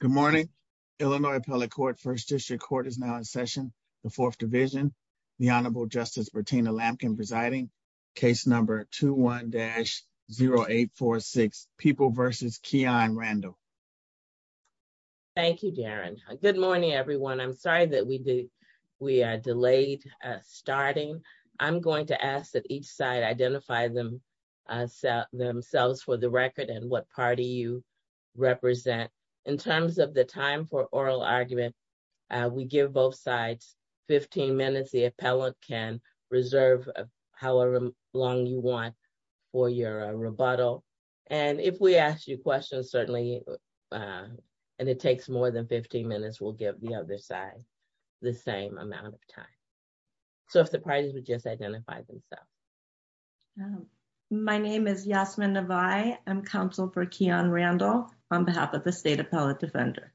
Good morning, Illinois appellate court first district court is now in session, the fourth division. The Honorable Justice Bertina Lampkin presiding case number 21 dash 0846 people versus key on Randall. Thank you, Darren. Good morning everyone I'm sorry that we did. We are delayed. Starting, I'm going to ask that each side identify them. Set themselves for the record and what party you represent in terms of the time for oral argument. We give both sides 15 minutes the appellate can reserve, however long you want for your rebuttal. And if we ask you questions certainly. And it takes more than 15 minutes will give the other side, the same amount of time. So if the parties would just identify themselves. My name is Yasmin of I am counsel for Keon Randall, on behalf of the state appellate defender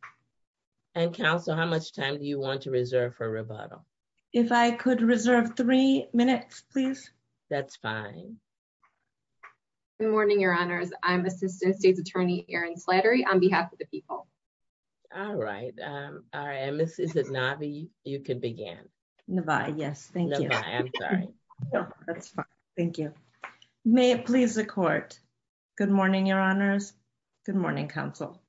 and counsel how much time do you want to reserve for rebuttal. If I could reserve three minutes, please. That's fine. Good morning, your honors, I'm assistant state's attorney Aaron slattery on behalf of the people. All right. I am this is a Navi, you can begin. Yes, thank you. Thank you. May it please the court. Good morning, your honors. Good morning, counsel.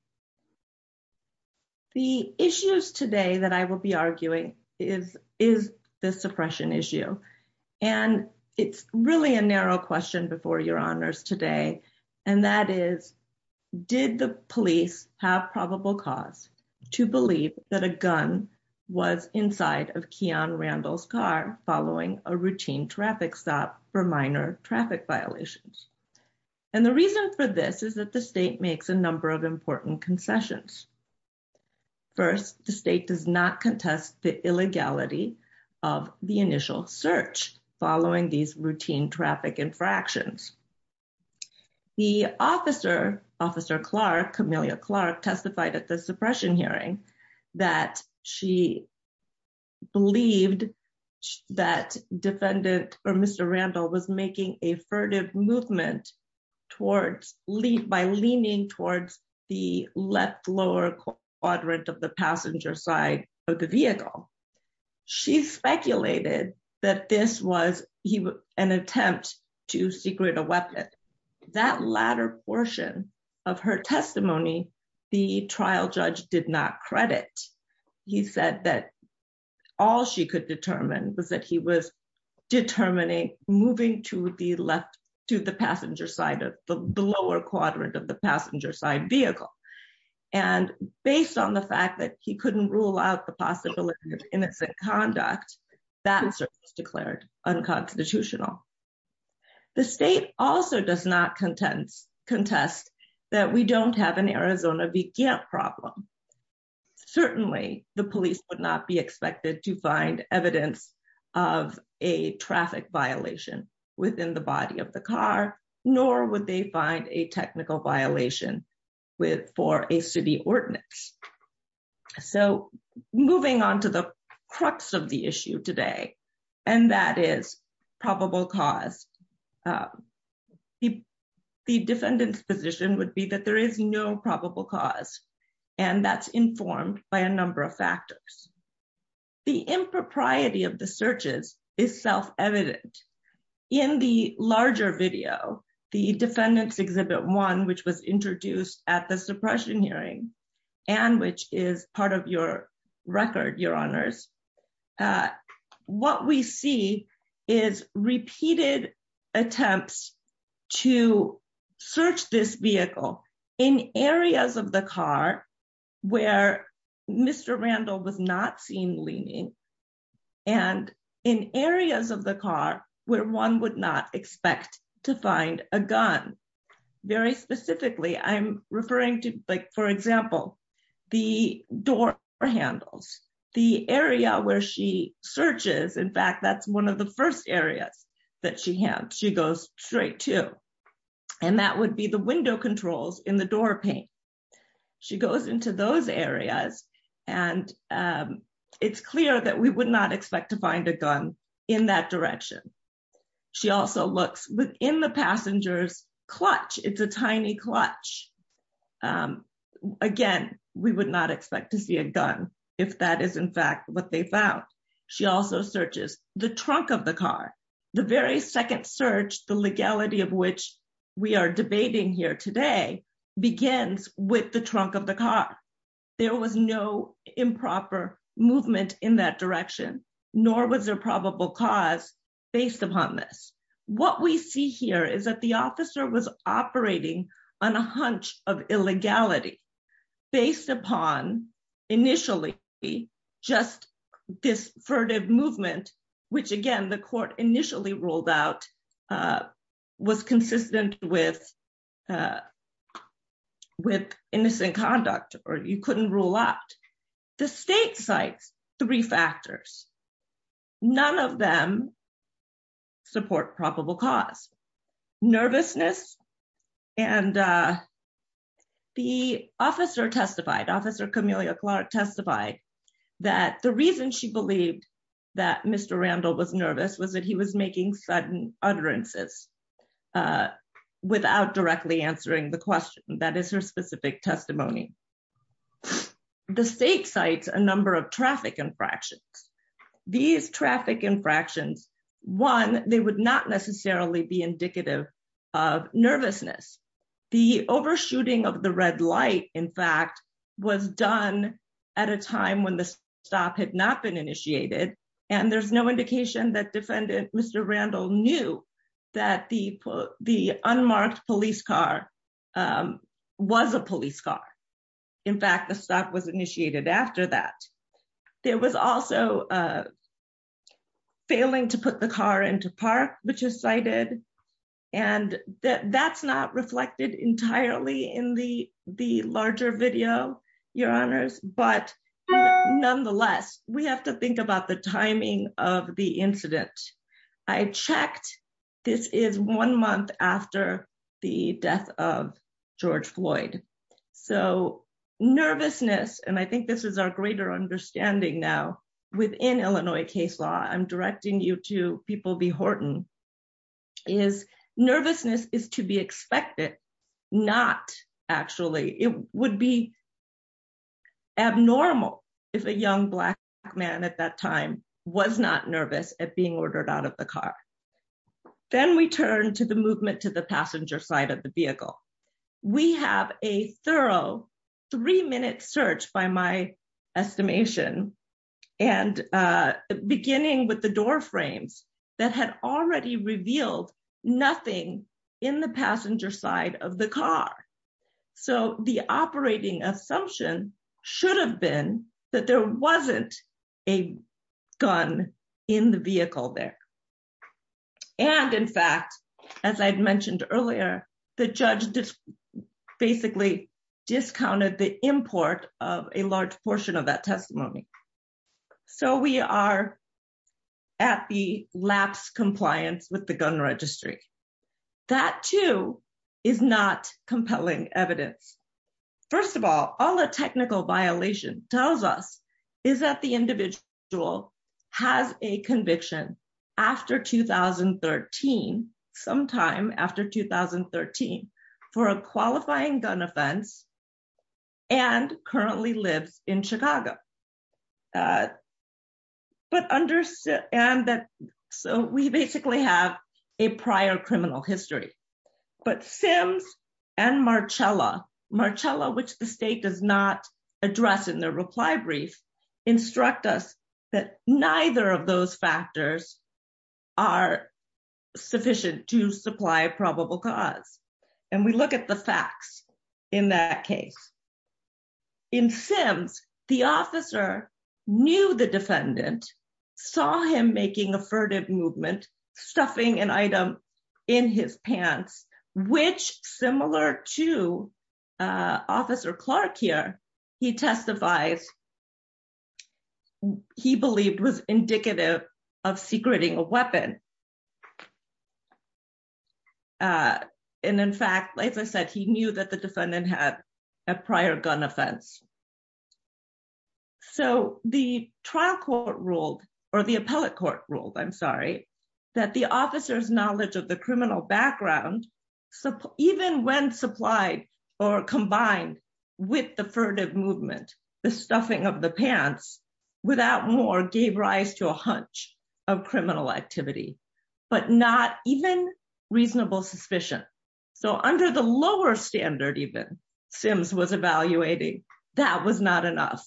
The issues today that I will be arguing is, is the suppression issue. And it's really a narrow question before your honors today. And that is, did the police have probable cause to believe that a gun was inside of Keon Randall's car following a routine traffic stop for minor traffic violations. And the reason for this is that the state makes a number of important concessions. First, the state does not contest the illegality of the initial search, following these routine traffic infractions. The officer, Officer Clark Camilla Clark testified at the suppression hearing that she believed that defendant, or Mr Randall was making a furtive movement towards lead by leaning towards the left lower quadrant of the passenger side of the vehicle. She speculated that this was an attempt to secret a weapon that latter portion of her testimony. The trial judge did not credit. He said that all she could determine was that he was determining, moving to the left to the passenger side of the lower quadrant of the passenger side vehicle. And based on the fact that he couldn't rule out the possibility of innocent conduct that was declared unconstitutional. The state also does not content contest that we don't have an Arizona began problem. Certainly, the police would not be expected to find evidence of a traffic violation within the body of the car, nor would they find a technical violation with for a city ordinance. So, moving on to the crux of the issue today, and that is probable cause the defendant's position would be that there is no probable cause, and that's informed by a number of factors. The impropriety of the searches is self evident in the larger video, the defendants exhibit one which was introduced at the suppression hearing, and which is part of your record your honors. What we see is repeated attempts to search this vehicle in areas of the car, where Mr Randall was not seen leaning and in areas of the car, where one would not expect to find a gun. Very specifically I'm referring to, like, for example, the door handles the area where she searches in fact that's one of the first areas that she had she goes straight to. And that would be the window controls in the door paint. She goes into those areas. And it's clear that we would not expect to find a gun in that direction. She also looks within the passengers clutch, it's a tiny clutch. Again, we would not expect to see a gun. If that is in fact what they found. She also searches the trunk of the car, the very second search the legality of which we are debating here today begins with the trunk of the car. There was no improper movement in that direction, nor was there probable cause based upon this, what we see here is that the officer was operating on a hunch of illegality, based upon initially be just this furtive movement, which again the court initially ruled out was consistent with with innocent conduct, or you couldn't rule out the state sites, three factors. None of them support probable cause nervousness, and the officer testified officer Camilla Clark testified that the reason she believed that Mr Randall was nervous was that he was making sudden utterances without directly answering the question that is her specific testimony. The state sites, a number of traffic infractions. These traffic infractions. One, they would not necessarily be indicative of nervousness, the overshooting of the red light, in fact, was done at a time when the stop had not been initiated, and there's no indication that defendant, Mr Randall knew that the, the unmarked police car was a police car. In fact, the stock was initiated after that. There was also a failing to put the car into park, which is cited, and that that's not reflected entirely in the, the larger video, your honors, but nonetheless, we have to think about the timing of the incident. I checked. This is one month after the death of George Floyd. So, nervousness and I think this is our greater understanding now within Illinois case law I'm directing you to people be Horton is nervousness is to be expected. Not actually, it would be abnormal. If a young black man at that time was not nervous at being ordered out of the car. Then we turn to the movement to the passenger side of the vehicle. We have a thorough three minute search by my estimation, and beginning with the door frames that had already revealed nothing in the passenger side of the car. So the operating assumption should have been that there wasn't a gun in the vehicle there. And in fact, as I mentioned earlier, the judge just basically discounted the import of a large portion of that testimony. So we are at the lapse compliance with the gun registry. That too, is not compelling evidence. First of all, all the technical violation tells us is that the individual has a conviction. After 2013 sometime after 2013 for a qualifying gun offense and currently lives in Chicago. But understand that. So we basically have a prior criminal history, but Sims and Marcella Marcella which the state does not address in their reply brief instruct us that neither of those factors are sufficient to supply probable cause. And we look at the facts in that case. In Sims, the officer knew the defendant saw him making a furtive movement stuffing an item in his pants, which similar to Officer Clark here, he testifies. He believed was indicative of secreting a weapon. And in fact, like I said, he knew that the defendant had a prior gun offense. So the trial court ruled, or the appellate court ruled, I'm sorry, that the officers knowledge of the criminal background. So even when supplied or combined with the furtive movement, the stuffing of the pants without more gave rise to a hunch of criminal activity, but not even reasonable suspicion. So under the lower standard even Sims was evaluating that was not enough.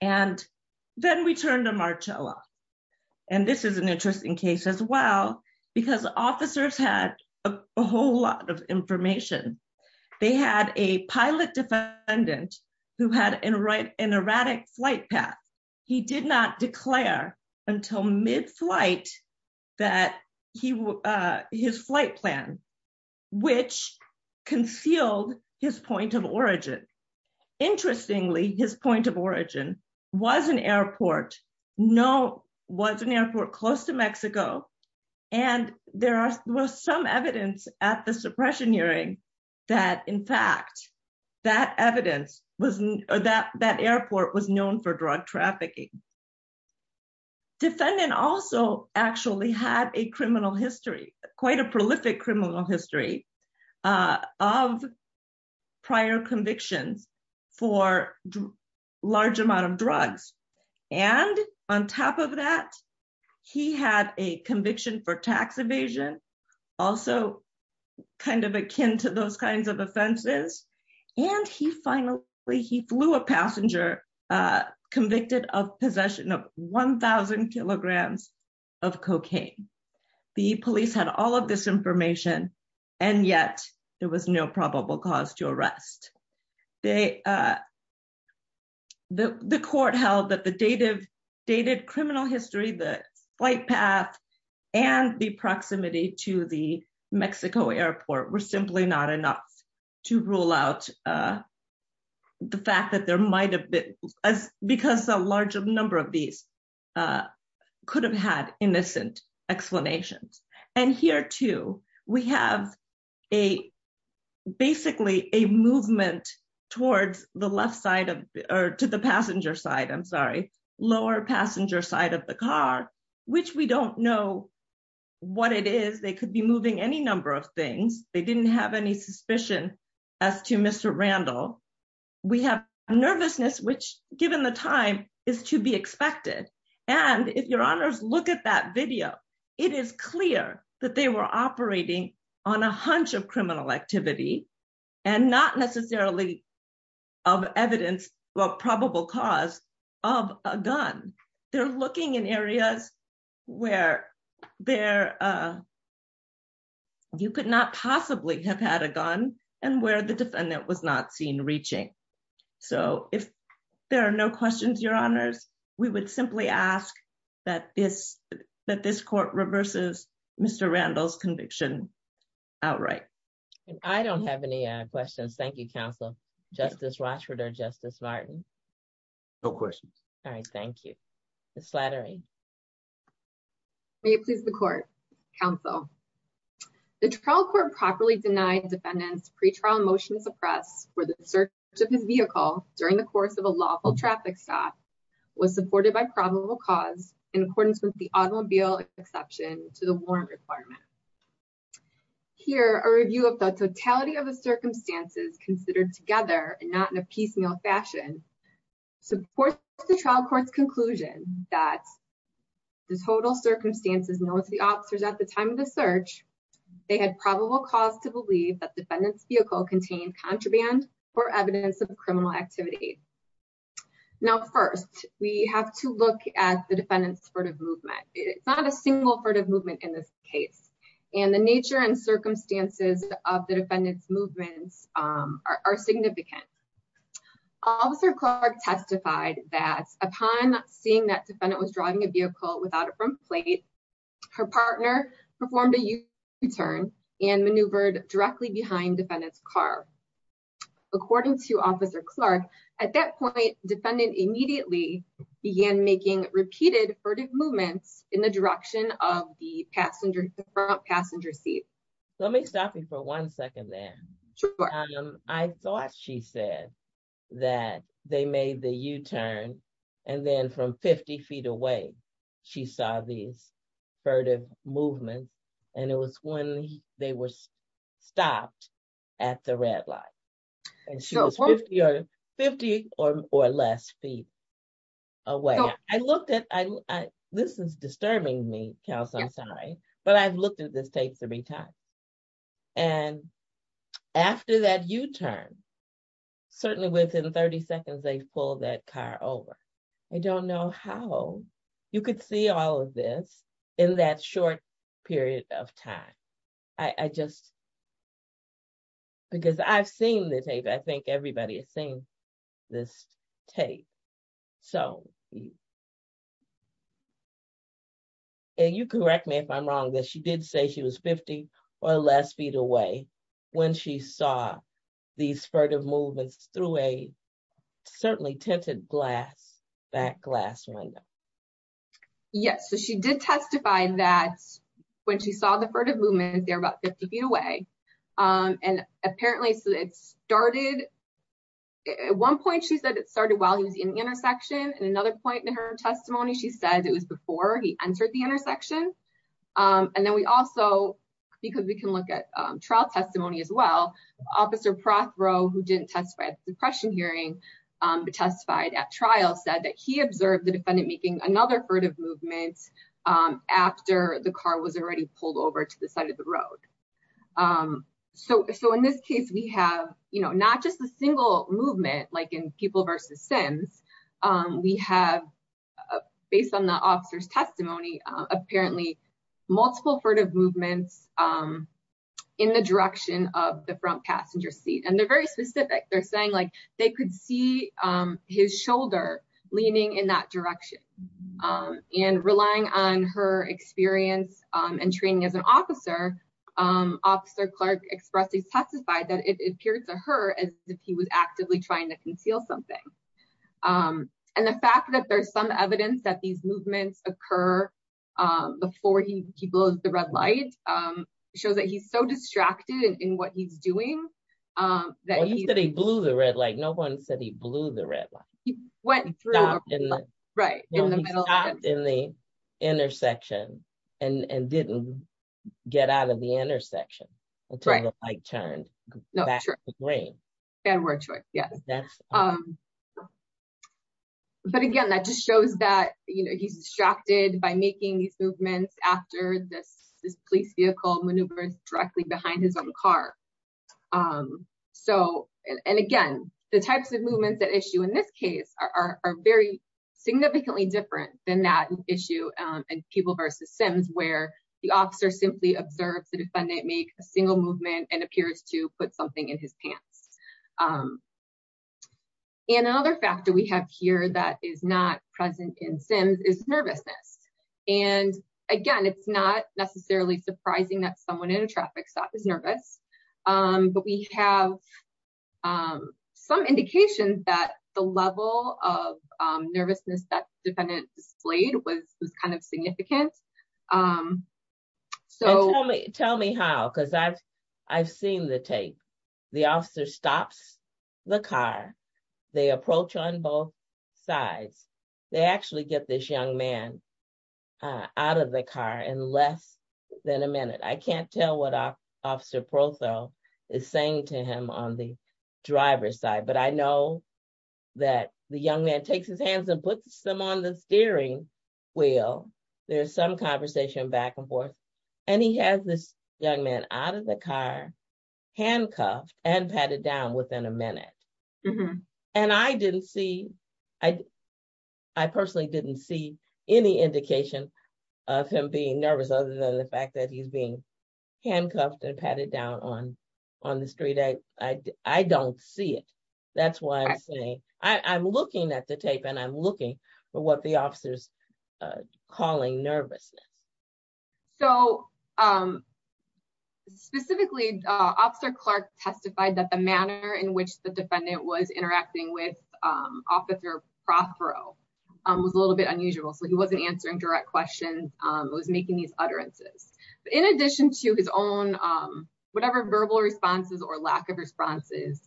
And then we turn to Marcella. And this is an interesting case as well because officers had a whole lot of information. They had a pilot defendant who had an erratic flight path. He did not declare until mid-flight that his flight plan, which concealed his point of origin. That in fact, that evidence was that that airport was known for drug trafficking. Defendant also actually had a criminal history, quite a prolific criminal history of prior convictions for large amount of drugs. And on top of that, he had a conviction for tax evasion, also kind of akin to those kinds of offenses. And he finally, he flew a passenger convicted of possession of 1000 kilograms of cocaine. The police had all of this information, and yet there was no probable cause to arrest. The court held that the dated criminal history, the flight path, and the proximity to the Mexico airport were simply not enough to rule out the fact that there might have been, because a large number of these could have had innocent explanations. And here too, we have a, basically a movement towards the left side of, or to the passenger side, I'm sorry, lower passenger side of the car, which we don't know what it is. They could be moving any number of things. They didn't have any suspicion as to Mr. Randall. We have nervousness, which given the time is to be expected. And if your honors look at that video, it is clear that they were operating on a hunch of criminal activity and not necessarily of evidence of probable cause of a gun. They're looking in areas where you could not possibly have had a gun and where the defendant was not seen reaching. So if there are no questions, your honors, we would simply ask that this court reverses Mr. Randall's conviction outright. I don't have any questions. Thank you, counsel, Justice Rochford or Justice Martin. No questions. All right, thank you. Ms. Slattery. May it please the court, counsel. The trial court properly denied defendants pretrial motion to suppress for the search of his vehicle during the course of a lawful traffic stop was supported by probable cause in accordance with the automobile exception to the warrant requirement. Here, a review of the totality of the circumstances considered together and not in a piecemeal fashion supports the trial court's conclusion that the total circumstances known to the officers at the time of the search, they had probable cause to believe that defendant's vehicle contained contraband or evidence of criminal activity. Now, first, we have to look at the defendant's furtive movement. It's not a single furtive movement in this case, and the nature and circumstances of the defendant's movements are significant. Officer Clark testified that upon seeing that defendant was driving a vehicle without a front plate, her partner performed a U-turn and maneuvered directly behind defendant's car. According to Officer Clark, at that point, defendant immediately began making repeated furtive movements in the direction of the front passenger seat. Let me stop you for one second there. I thought she said that they made the U-turn, and then from 50 feet away, she saw these furtive movements, and it was when they were stopped at the red light. And she was 50 or less feet away. This is disturbing me, Kels, I'm sorry, but I've looked at this tape three times. And after that U-turn, certainly within 30 seconds, they pulled that car over. I don't know how you could see all of this in that short period of time. I just, because I've seen the tape, I think everybody has seen this tape. So, and you correct me if I'm wrong, but she did say she was 50 or less feet away when she saw these furtive movements through a certainly tinted glass, back glass window. Yes, so she did testify that when she saw the furtive movements, they were about 50 feet away. And apparently it started, at one point, she said it started while he was in the intersection. At another point in her testimony, she said it was before he entered the intersection. And then we also, because we can look at trial testimony as well, Officer Prothrow, who didn't testify at the depression hearing, but testified at trial, said that he observed the defendant making another furtive movement after the car was already pulled over to the side of the road. So, in this case, we have, you know, not just a single movement like in people versus Sims. We have, based on the officer's testimony, apparently multiple furtive movements in the direction of the front passenger seat. And they're very specific. They're saying like they could see his shoulder leaning in that direction. And relying on her experience and training as an officer, Officer Clark expressly testified that it appeared to her as if he was actively trying to conceal something. And the fact that there's some evidence that these movements occur before he blows the red light shows that he's so distracted in what he's doing. You said he blew the red light. No one said he blew the red light. He stopped in the intersection and didn't get out of the intersection until the light turned back to green. And we're at choice, yes. But again, that just shows that, you know, he's distracted by making these movements after this police vehicle maneuvers directly behind his own car. So, and again, the types of movements that issue in this case are very significantly different than that issue in people versus Sims where the officer simply observes the defendant make a single movement and appears to put something in his pants. And another factor we have here that is not present in Sims is nervousness. And again, it's not necessarily surprising that someone in a traffic stop is nervous, but we have some indications that the level of nervousness that defendant displayed was kind of significant. Tell me how, because I've seen the tape. The officer stops the car. They approach on both sides. They actually get this young man out of the car in less than a minute. I can't tell what Officer Protho is saying to him on the driver's side, but I know that the young man takes his hands and puts them on the steering wheel. They have some conversation back and forth. And he has this young man out of the car, handcuffed and patted down within a minute. And I didn't see, I personally didn't see any indication of him being nervous other than the fact that he's being handcuffed and patted down on the street. I don't see it. That's why I'm saying, I'm looking at the tape and I'm looking for what the officer's calling nervousness. So, specifically, Officer Clark testified that the manner in which the defendant was interacting with Officer Protho was a little bit unusual. So he wasn't answering direct questions. It was making these utterances. In addition to his own, whatever verbal responses or lack of responses,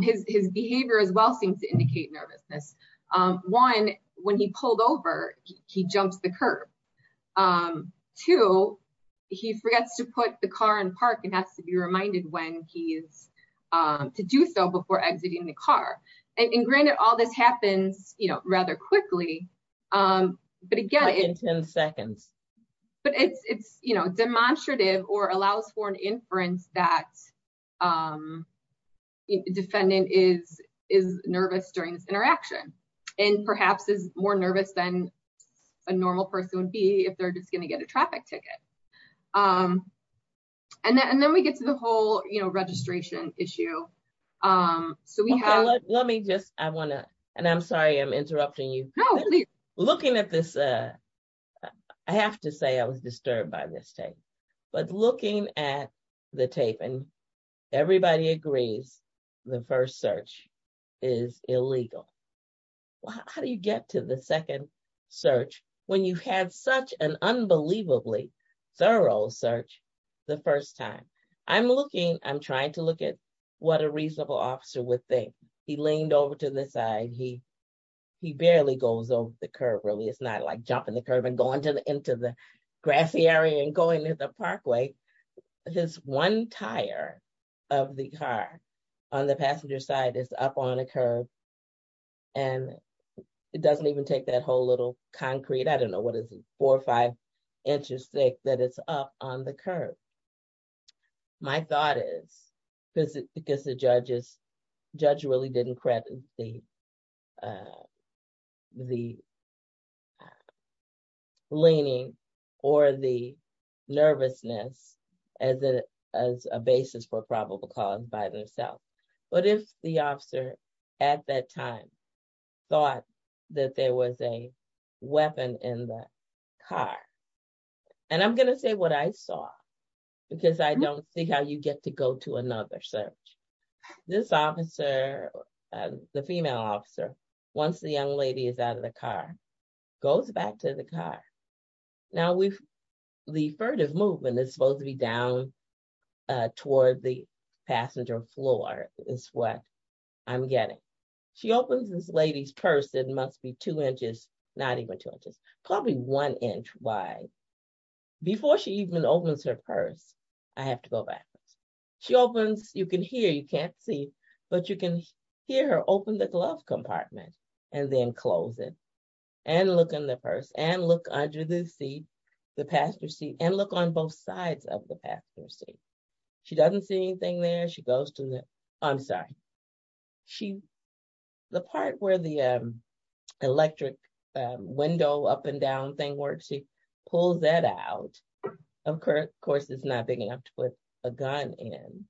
his behavior as well seems to indicate nervousness. One, when he pulled over, he jumps the curb. Two, he forgets to put the car in park and has to be reminded when he is to do so before exiting the car. And granted, all this happens rather quickly, but again, it's demonstrative or allows for an inference that the defendant is nervous during this interaction. And perhaps is more nervous than a normal person would be if they're just going to get a traffic ticket. And then we get to the whole registration issue. Let me just, I want to, and I'm sorry I'm interrupting you. Looking at this, I have to say I was disturbed by this tape. But looking at the tape, and everybody agrees the first search is illegal. How do you get to the second search when you had such an unbelievably thorough search the first time? I'm looking, I'm trying to look at what a reasonable officer would think. He leaned over to the side. He barely goes over the curb, really. It's not like jumping the curb and going into the grassy area and going into the parkway. This one tire of the car on the passenger side is up on a curb. And it doesn't even take that whole little concrete, I don't know, what is it, four or five inches thick that it's up on the curb. My thought is, because the judge really didn't credit the leaning or the nervousness as a basis for probable cause by themselves. What if the officer at that time thought that there was a weapon in the car? And I'm going to say what I saw, because I don't see how you get to go to another search. This officer, the female officer, once the young lady is out of the car, goes back to the car. Now, the furtive movement is supposed to be down toward the passenger floor is what I'm getting. She opens this lady's purse, it must be two inches, not even two inches, probably one inch wide. Before she even opens her purse, I have to go back. She opens, you can hear, you can't see, but you can hear her open the glove compartment and then close it. And look in the purse and look under the seat, the passenger seat, and look on both sides of the passenger seat. She doesn't see anything there, she goes to the, I'm sorry. The part where the electric window up and down thing works, she pulls that out. Of course, it's not big enough to put a gun in,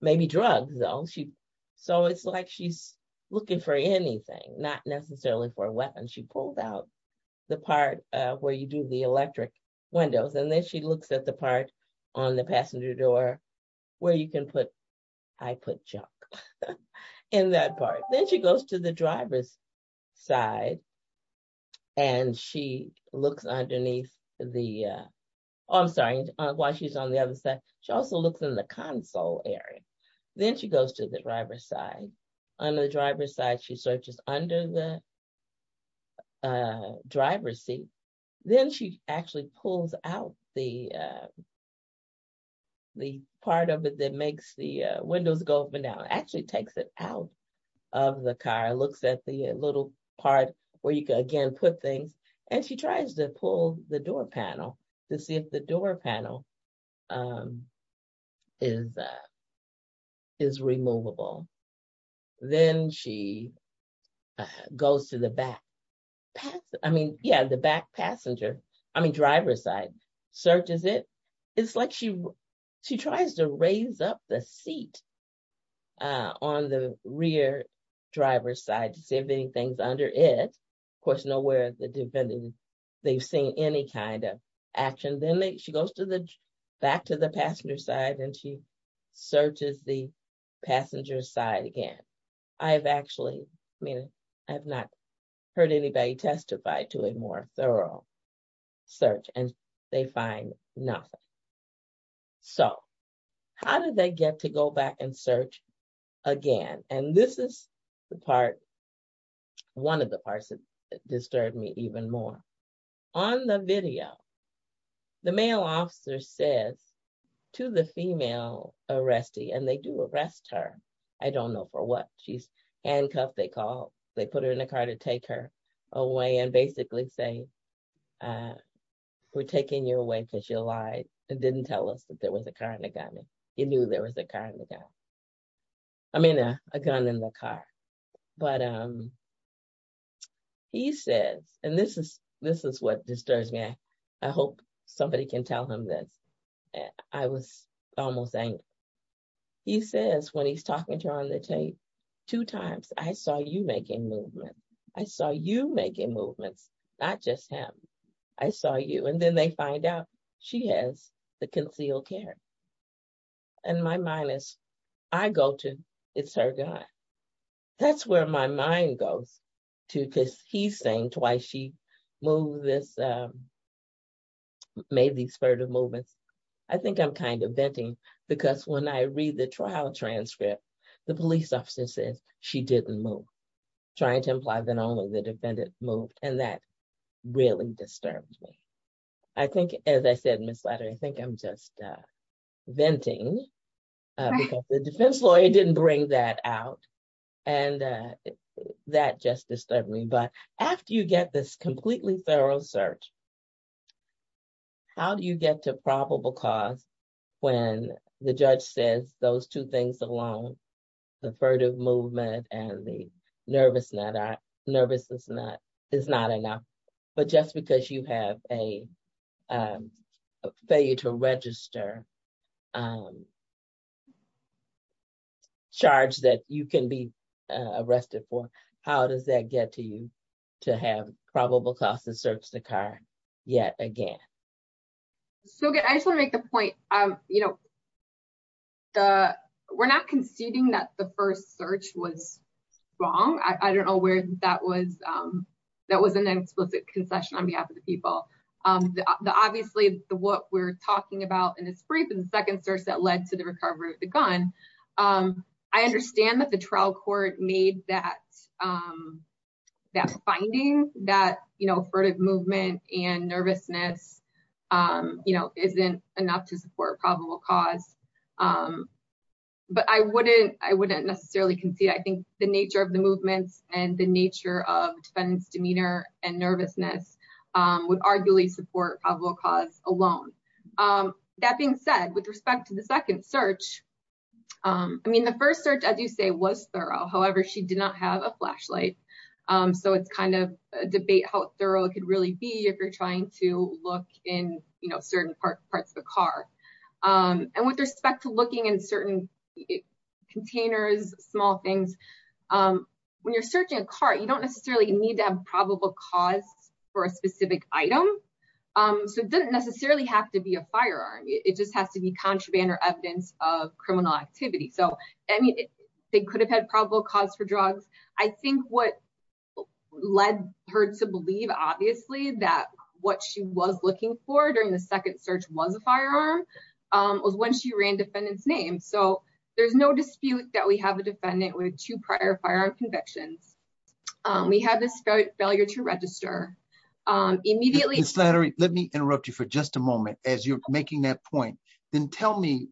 maybe drugs though. So it's like she's looking for anything, not necessarily for a weapon. She pulled out the part where you do the electric windows, and then she looks at the part on the passenger door where you can put, I put junk in that part. Then she goes to the driver's side, and she looks underneath the, I'm sorry, while she's on the other side, she also looks in the console area. Then she goes to the driver's side. On the driver's side, she searches under the driver's seat. Then she actually pulls out the part of it that makes the windows go up and down. Actually takes it out of the car, looks at the little part where you can again put things. And she tries to pull the door panel to see if the door panel is removable. Then she goes to the back passenger, I mean driver's side, searches it. It's like she tries to raise up the seat on the rear driver's side to see if anything's under it. Of course, nowhere they've seen any kind of action. Then she goes back to the passenger side, and she searches the passenger side again. I've actually, I mean, I've not heard anybody testify to a more thorough search, and they find nothing. So, how did they get to go back and search again? And this is the part, one of the parts that disturbed me even more. On the video, the male officer says to the female arrestee, and they do arrest her. I don't know for what. She's handcuffed, they call. They put her in a car to take her away and basically say, we're taking you away because you lied. It didn't tell us that there was a car and a gun. You knew there was a car and a gun. I mean, a gun in the car. But he says, and this is what disturbs me. I hope somebody can tell him this. I was almost angry. He says, when he's talking to her on the tape, two times, I saw you making movement. I saw you making movements, not just him. I saw you, and then they find out she has the concealed carry. And my mind is, I go to, it's her guy. That's where my mind goes to, because he's saying twice she moved this, made these furtive movements. I think I'm kind of venting, because when I read the trial transcript, the police officer says she didn't move. Trying to imply that only the defendant moved, and that really disturbed me. I think, as I said, Ms. Ladder, I think I'm just venting, because the defense lawyer didn't bring that out. And that just disturbed me. But after you get this completely thorough search, how do you get to probable cause when the judge says those two things alone, the furtive movement and the nervousness is not enough. But just because you have a failure to register charge that you can be arrested for, how does that get to you to have probable cause to search the car yet again? I just want to make the point, we're not conceding that the first search was wrong. I don't know where that was an explicit concession on behalf of the people. Obviously, what we're talking about in this brief is the second search that led to the recovery of the gun. I understand that the trial court made that finding that furtive movement and nervousness isn't enough to support probable cause. But I wouldn't necessarily concede. I think the nature of the movements and the nature of defendant's demeanor and nervousness would arguably support probable cause alone. That being said, with respect to the second search, the first search, as you say, was thorough. However, she did not have a flashlight, so it's kind of a debate how thorough it could really be if you're trying to look in certain parts of the car. And with respect to looking in certain containers, small things, when you're searching a car, you don't necessarily need to have probable cause for a specific item. So it doesn't necessarily have to be a firearm. It just has to be contraband or evidence of criminal activity. They could have had probable cause for drugs. I think what led her to believe, obviously, that what she was looking for during the second search was a firearm was when she ran defendant's name. So there's no dispute that we have a defendant with two prior firearm convictions. We have this failure to register. Ms. Lattery, let me interrupt you for just a moment as you're making that point. Then tell me,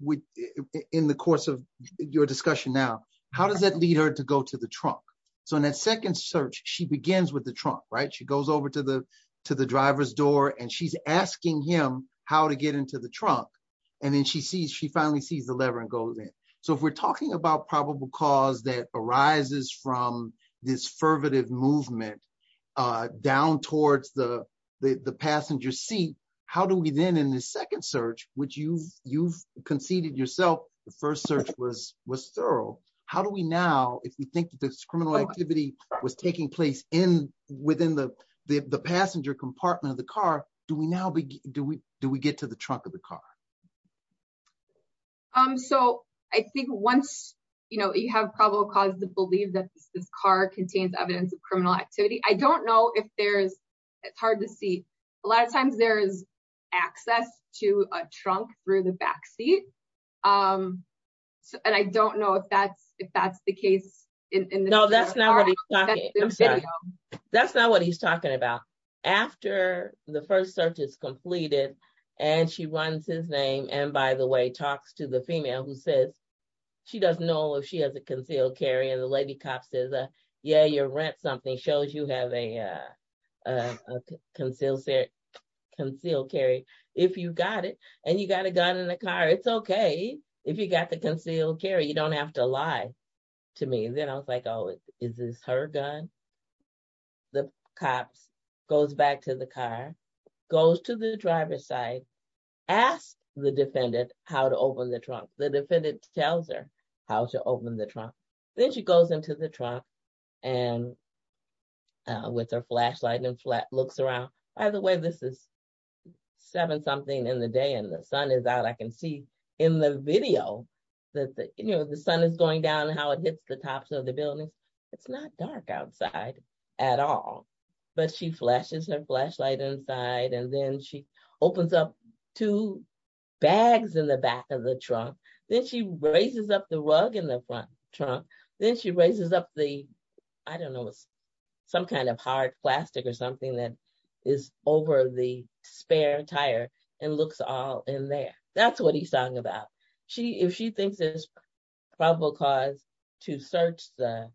in the course of your discussion now, how does that lead her to go to the trunk? So in that second search, she begins with the trunk, right? She goes over to the driver's door, and she's asking him how to get into the trunk. And then she finally sees the lever and goes in. So if we're talking about probable cause that arises from this fervent movement down towards the passenger seat, how do we then, in the second search, which you've conceded yourself the first search was thorough, how do we now, if we think that this criminal activity was taking place within the passenger compartment of the car, do we get to the trunk of the car? So I think once you have probable cause to believe that this car contains evidence of criminal activity, I don't know if there's, it's hard to see. A lot of times there is access to a trunk through the backseat. And I don't know if that's the case. No, that's not what he's talking about. After the first search is completed, and she runs his name, and by the way, talks to the female who says she doesn't know if she has a concealed carry, and the lady cop says, yeah, your rent something shows you have a concealed carry. If you got it, and you got a gun in the car, it's okay. If you got the concealed carry, you don't have to lie to me. Then I was like, oh, is this her gun? The cop goes back to the car, goes to the driver's side, asks the defendant how to open the trunk. The defendant tells her how to open the trunk. Then she goes into the trunk and with her flashlight and looks around. By the way, this is seven something in the day, and the sun is out. I can see in the video that the sun is going down and how it hits the tops of the buildings. It's not dark outside at all, but she flashes her flashlight inside, and then she opens up two bags in the back of the trunk. Then she raises up the rug in the front trunk. Then she raises up the, I don't know, some kind of hard plastic or something that is over the spare tire and looks all in there. That's what he's talking about. If she thinks there's probable cause to search the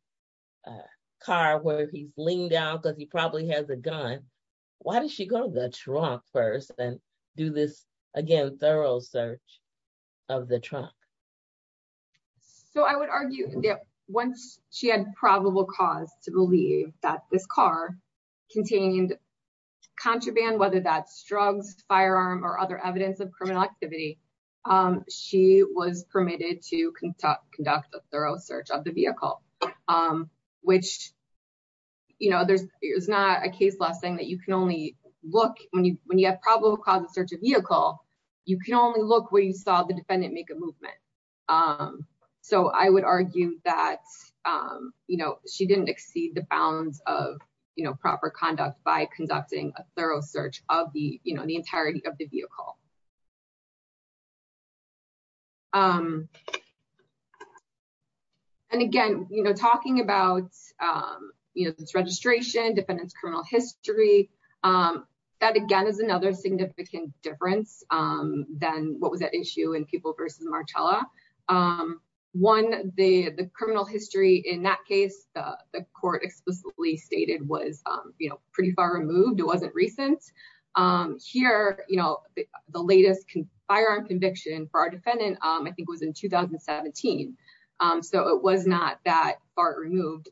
car where he's laying down because he probably has a gun, why does she go to the trunk first and do this, again, thorough search of the trunk? I would argue that once she had probable cause to believe that this car contained contraband, whether that's drugs, firearm, or other evidence of criminal activity, she was permitted to conduct a thorough search of the vehicle, which there's not a case law saying that you can only look. When you have probable cause to search a vehicle, you can only look where you saw the defendant make a movement. I would argue that she didn't exceed the bounds of proper conduct by conducting a thorough search of the entirety of the vehicle. Again, talking about this registration, defendant's criminal history, that, again, is another significant difference than what was at issue in Peeble v. Marcella. One, the criminal history in that case, the court explicitly stated, was pretty far removed. It wasn't recent. Here, the latest firearm conviction for our defendant, I think, was in 2017. It was not that far removed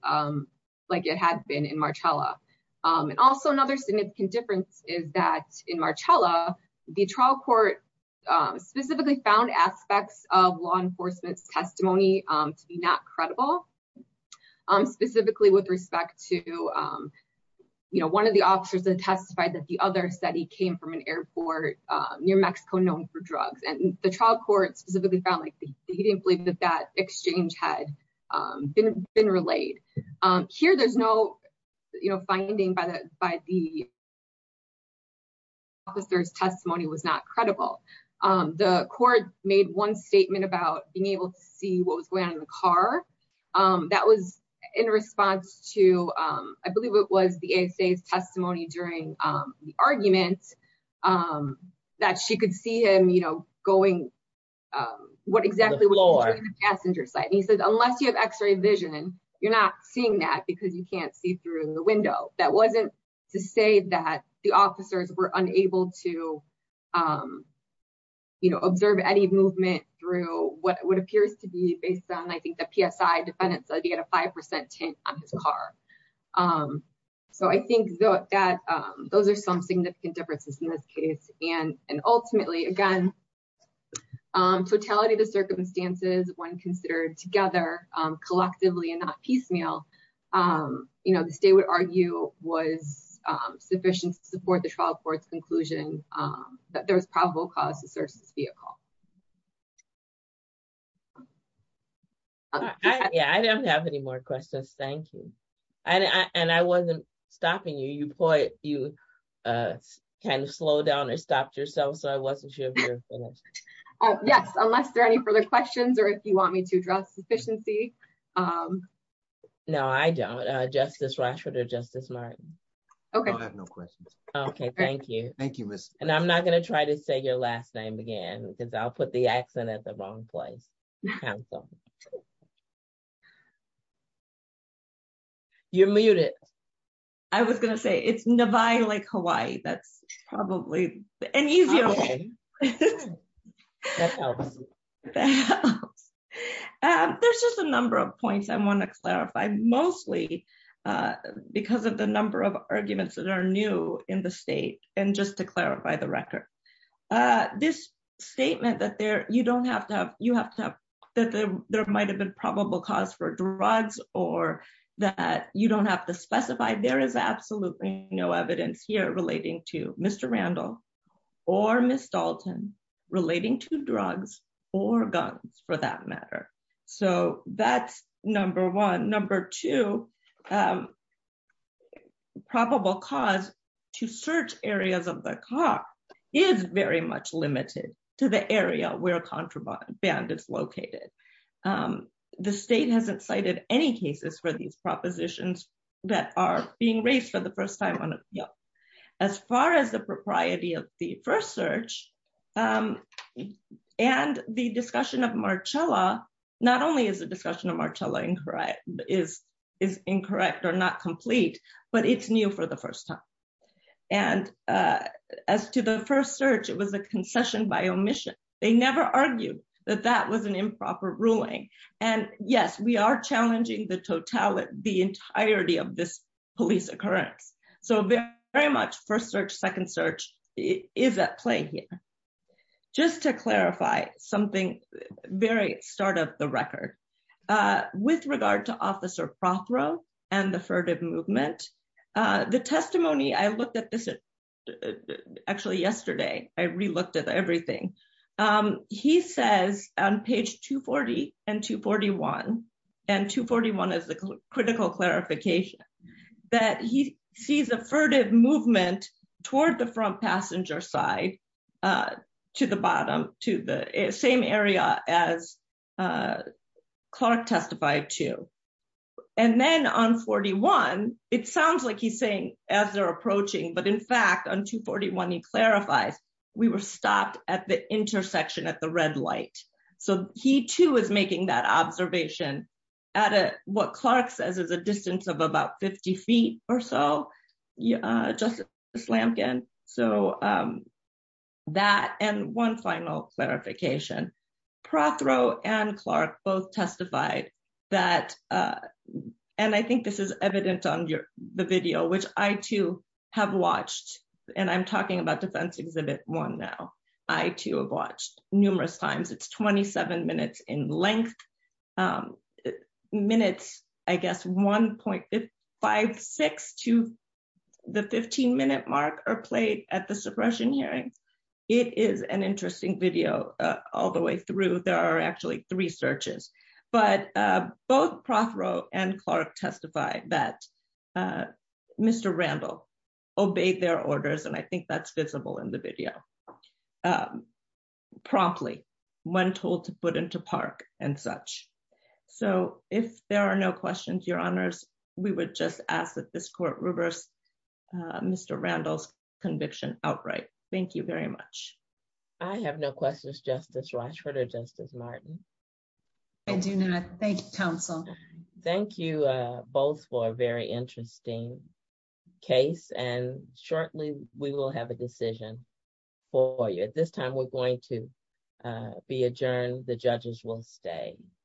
like it had been in Marcella. Also, another significant difference is that in Marcella, the trial court specifically found aspects of law enforcement's testimony to be not credible, specifically with respect to one of the officers that testified that the other said he came from an airport near Mexico known for drugs. The trial court specifically found that he didn't believe that that exchange had been relayed. Here, there's no finding by the officer's testimony was not credible. The court made one statement about being able to see what was going on in the car. That was in response to, I believe it was the ASA's testimony during the argument that she could see him going, what exactly was going on in the passenger side. He said, unless you have x-ray vision, you're not seeing that because you can't see through the window. That wasn't to say that the officers were unable to observe any movement through what appears to be based on, I think, the PSI defendant's idea to 5% tint on his car. I think that those are some significant differences in this case. Ultimately, again, totality of the circumstances when considered together, collectively and not piecemeal, the state would argue was sufficient to support the trial court's conclusion that there was probable cause to search this vehicle. I don't have any more questions. Thank you. I wasn't stopping you. You kind of slowed down or stopped yourself. I wasn't sure if you were finished. Yes, unless there are any further questions or if you want me to address sufficiency. No, I don't. Justice Rashford or Justice Martin. I have no questions. Thank you. I'm not going to try to say your last name again because I'll put it in the wrong place. You're muted. I was going to say it's Nevada like Hawaii. That's probably an easier way. There's just a number of points I want to clarify, mostly because of the number of arguments that are new in the state. And just to clarify the record, this statement that you don't have to have, you have to have, that there might've been probable cause for drugs or that you don't have to specify. There is absolutely no evidence here relating to Mr. Randall or Ms. Dalton relating to drugs or guns for that matter. So that's number one. Number two, probable cause to search areas of the car is very much limited to the area where contraband is located. The state hasn't cited any cases for these propositions that are being raised for the first time. As far as the propriety of the first search and the discussion of Marcella, not only is the discussion of Marcella incorrect, is incorrect or not complete, but it's new for the first time. And as to the first search, it was a concession by omission. They never argued that that was an improper ruling. And yes, we are challenging the totality, the entirety of this police occurrence. So very much first search, second search is at play here. Just to clarify something, very start of the record, with regard to officer Prothrow and the furtive movement, the testimony I looked at this actually yesterday, I re-looked at everything. He says on page 240 and 241, and 241 is the critical clarification, that he sees a furtive movement toward the front passenger side to the bottom, to the same area as Clark testified to. And then on 41, it sounds like he's saying as they're approaching, but in fact, on 241, he clarifies, we were stopped at the intersection at the red light. So he too is making that observation at what Clark says is a distance of about 50 feet or so, just a slamping. So that, and one final clarification, Prothrow and Clark both testified that, and I think this is evident on the video, which I too have watched. And I'm talking about defense exhibit one now. I too have watched numerous times. It's 27 minutes in length. Minutes, I guess, 1.56 to the 15 minute mark are played at the suppression hearings. It is an interesting video all the way through. There are actually three searches, but both Prothrow and Clark testify that Mr. Randall obeyed their orders. And I think that's visible in the video promptly when told to put into park and such. So if there are no questions, your honors, we would just ask that this court reverse Mr. Randall's conviction outright. Thank you very much. I have no questions, Justice Rochford or Justice Martin. I do not. Thank you, counsel. Thank you both for a very interesting case. And shortly we will have a decision for you. At this time, we're going to be adjourned. The judges will stay.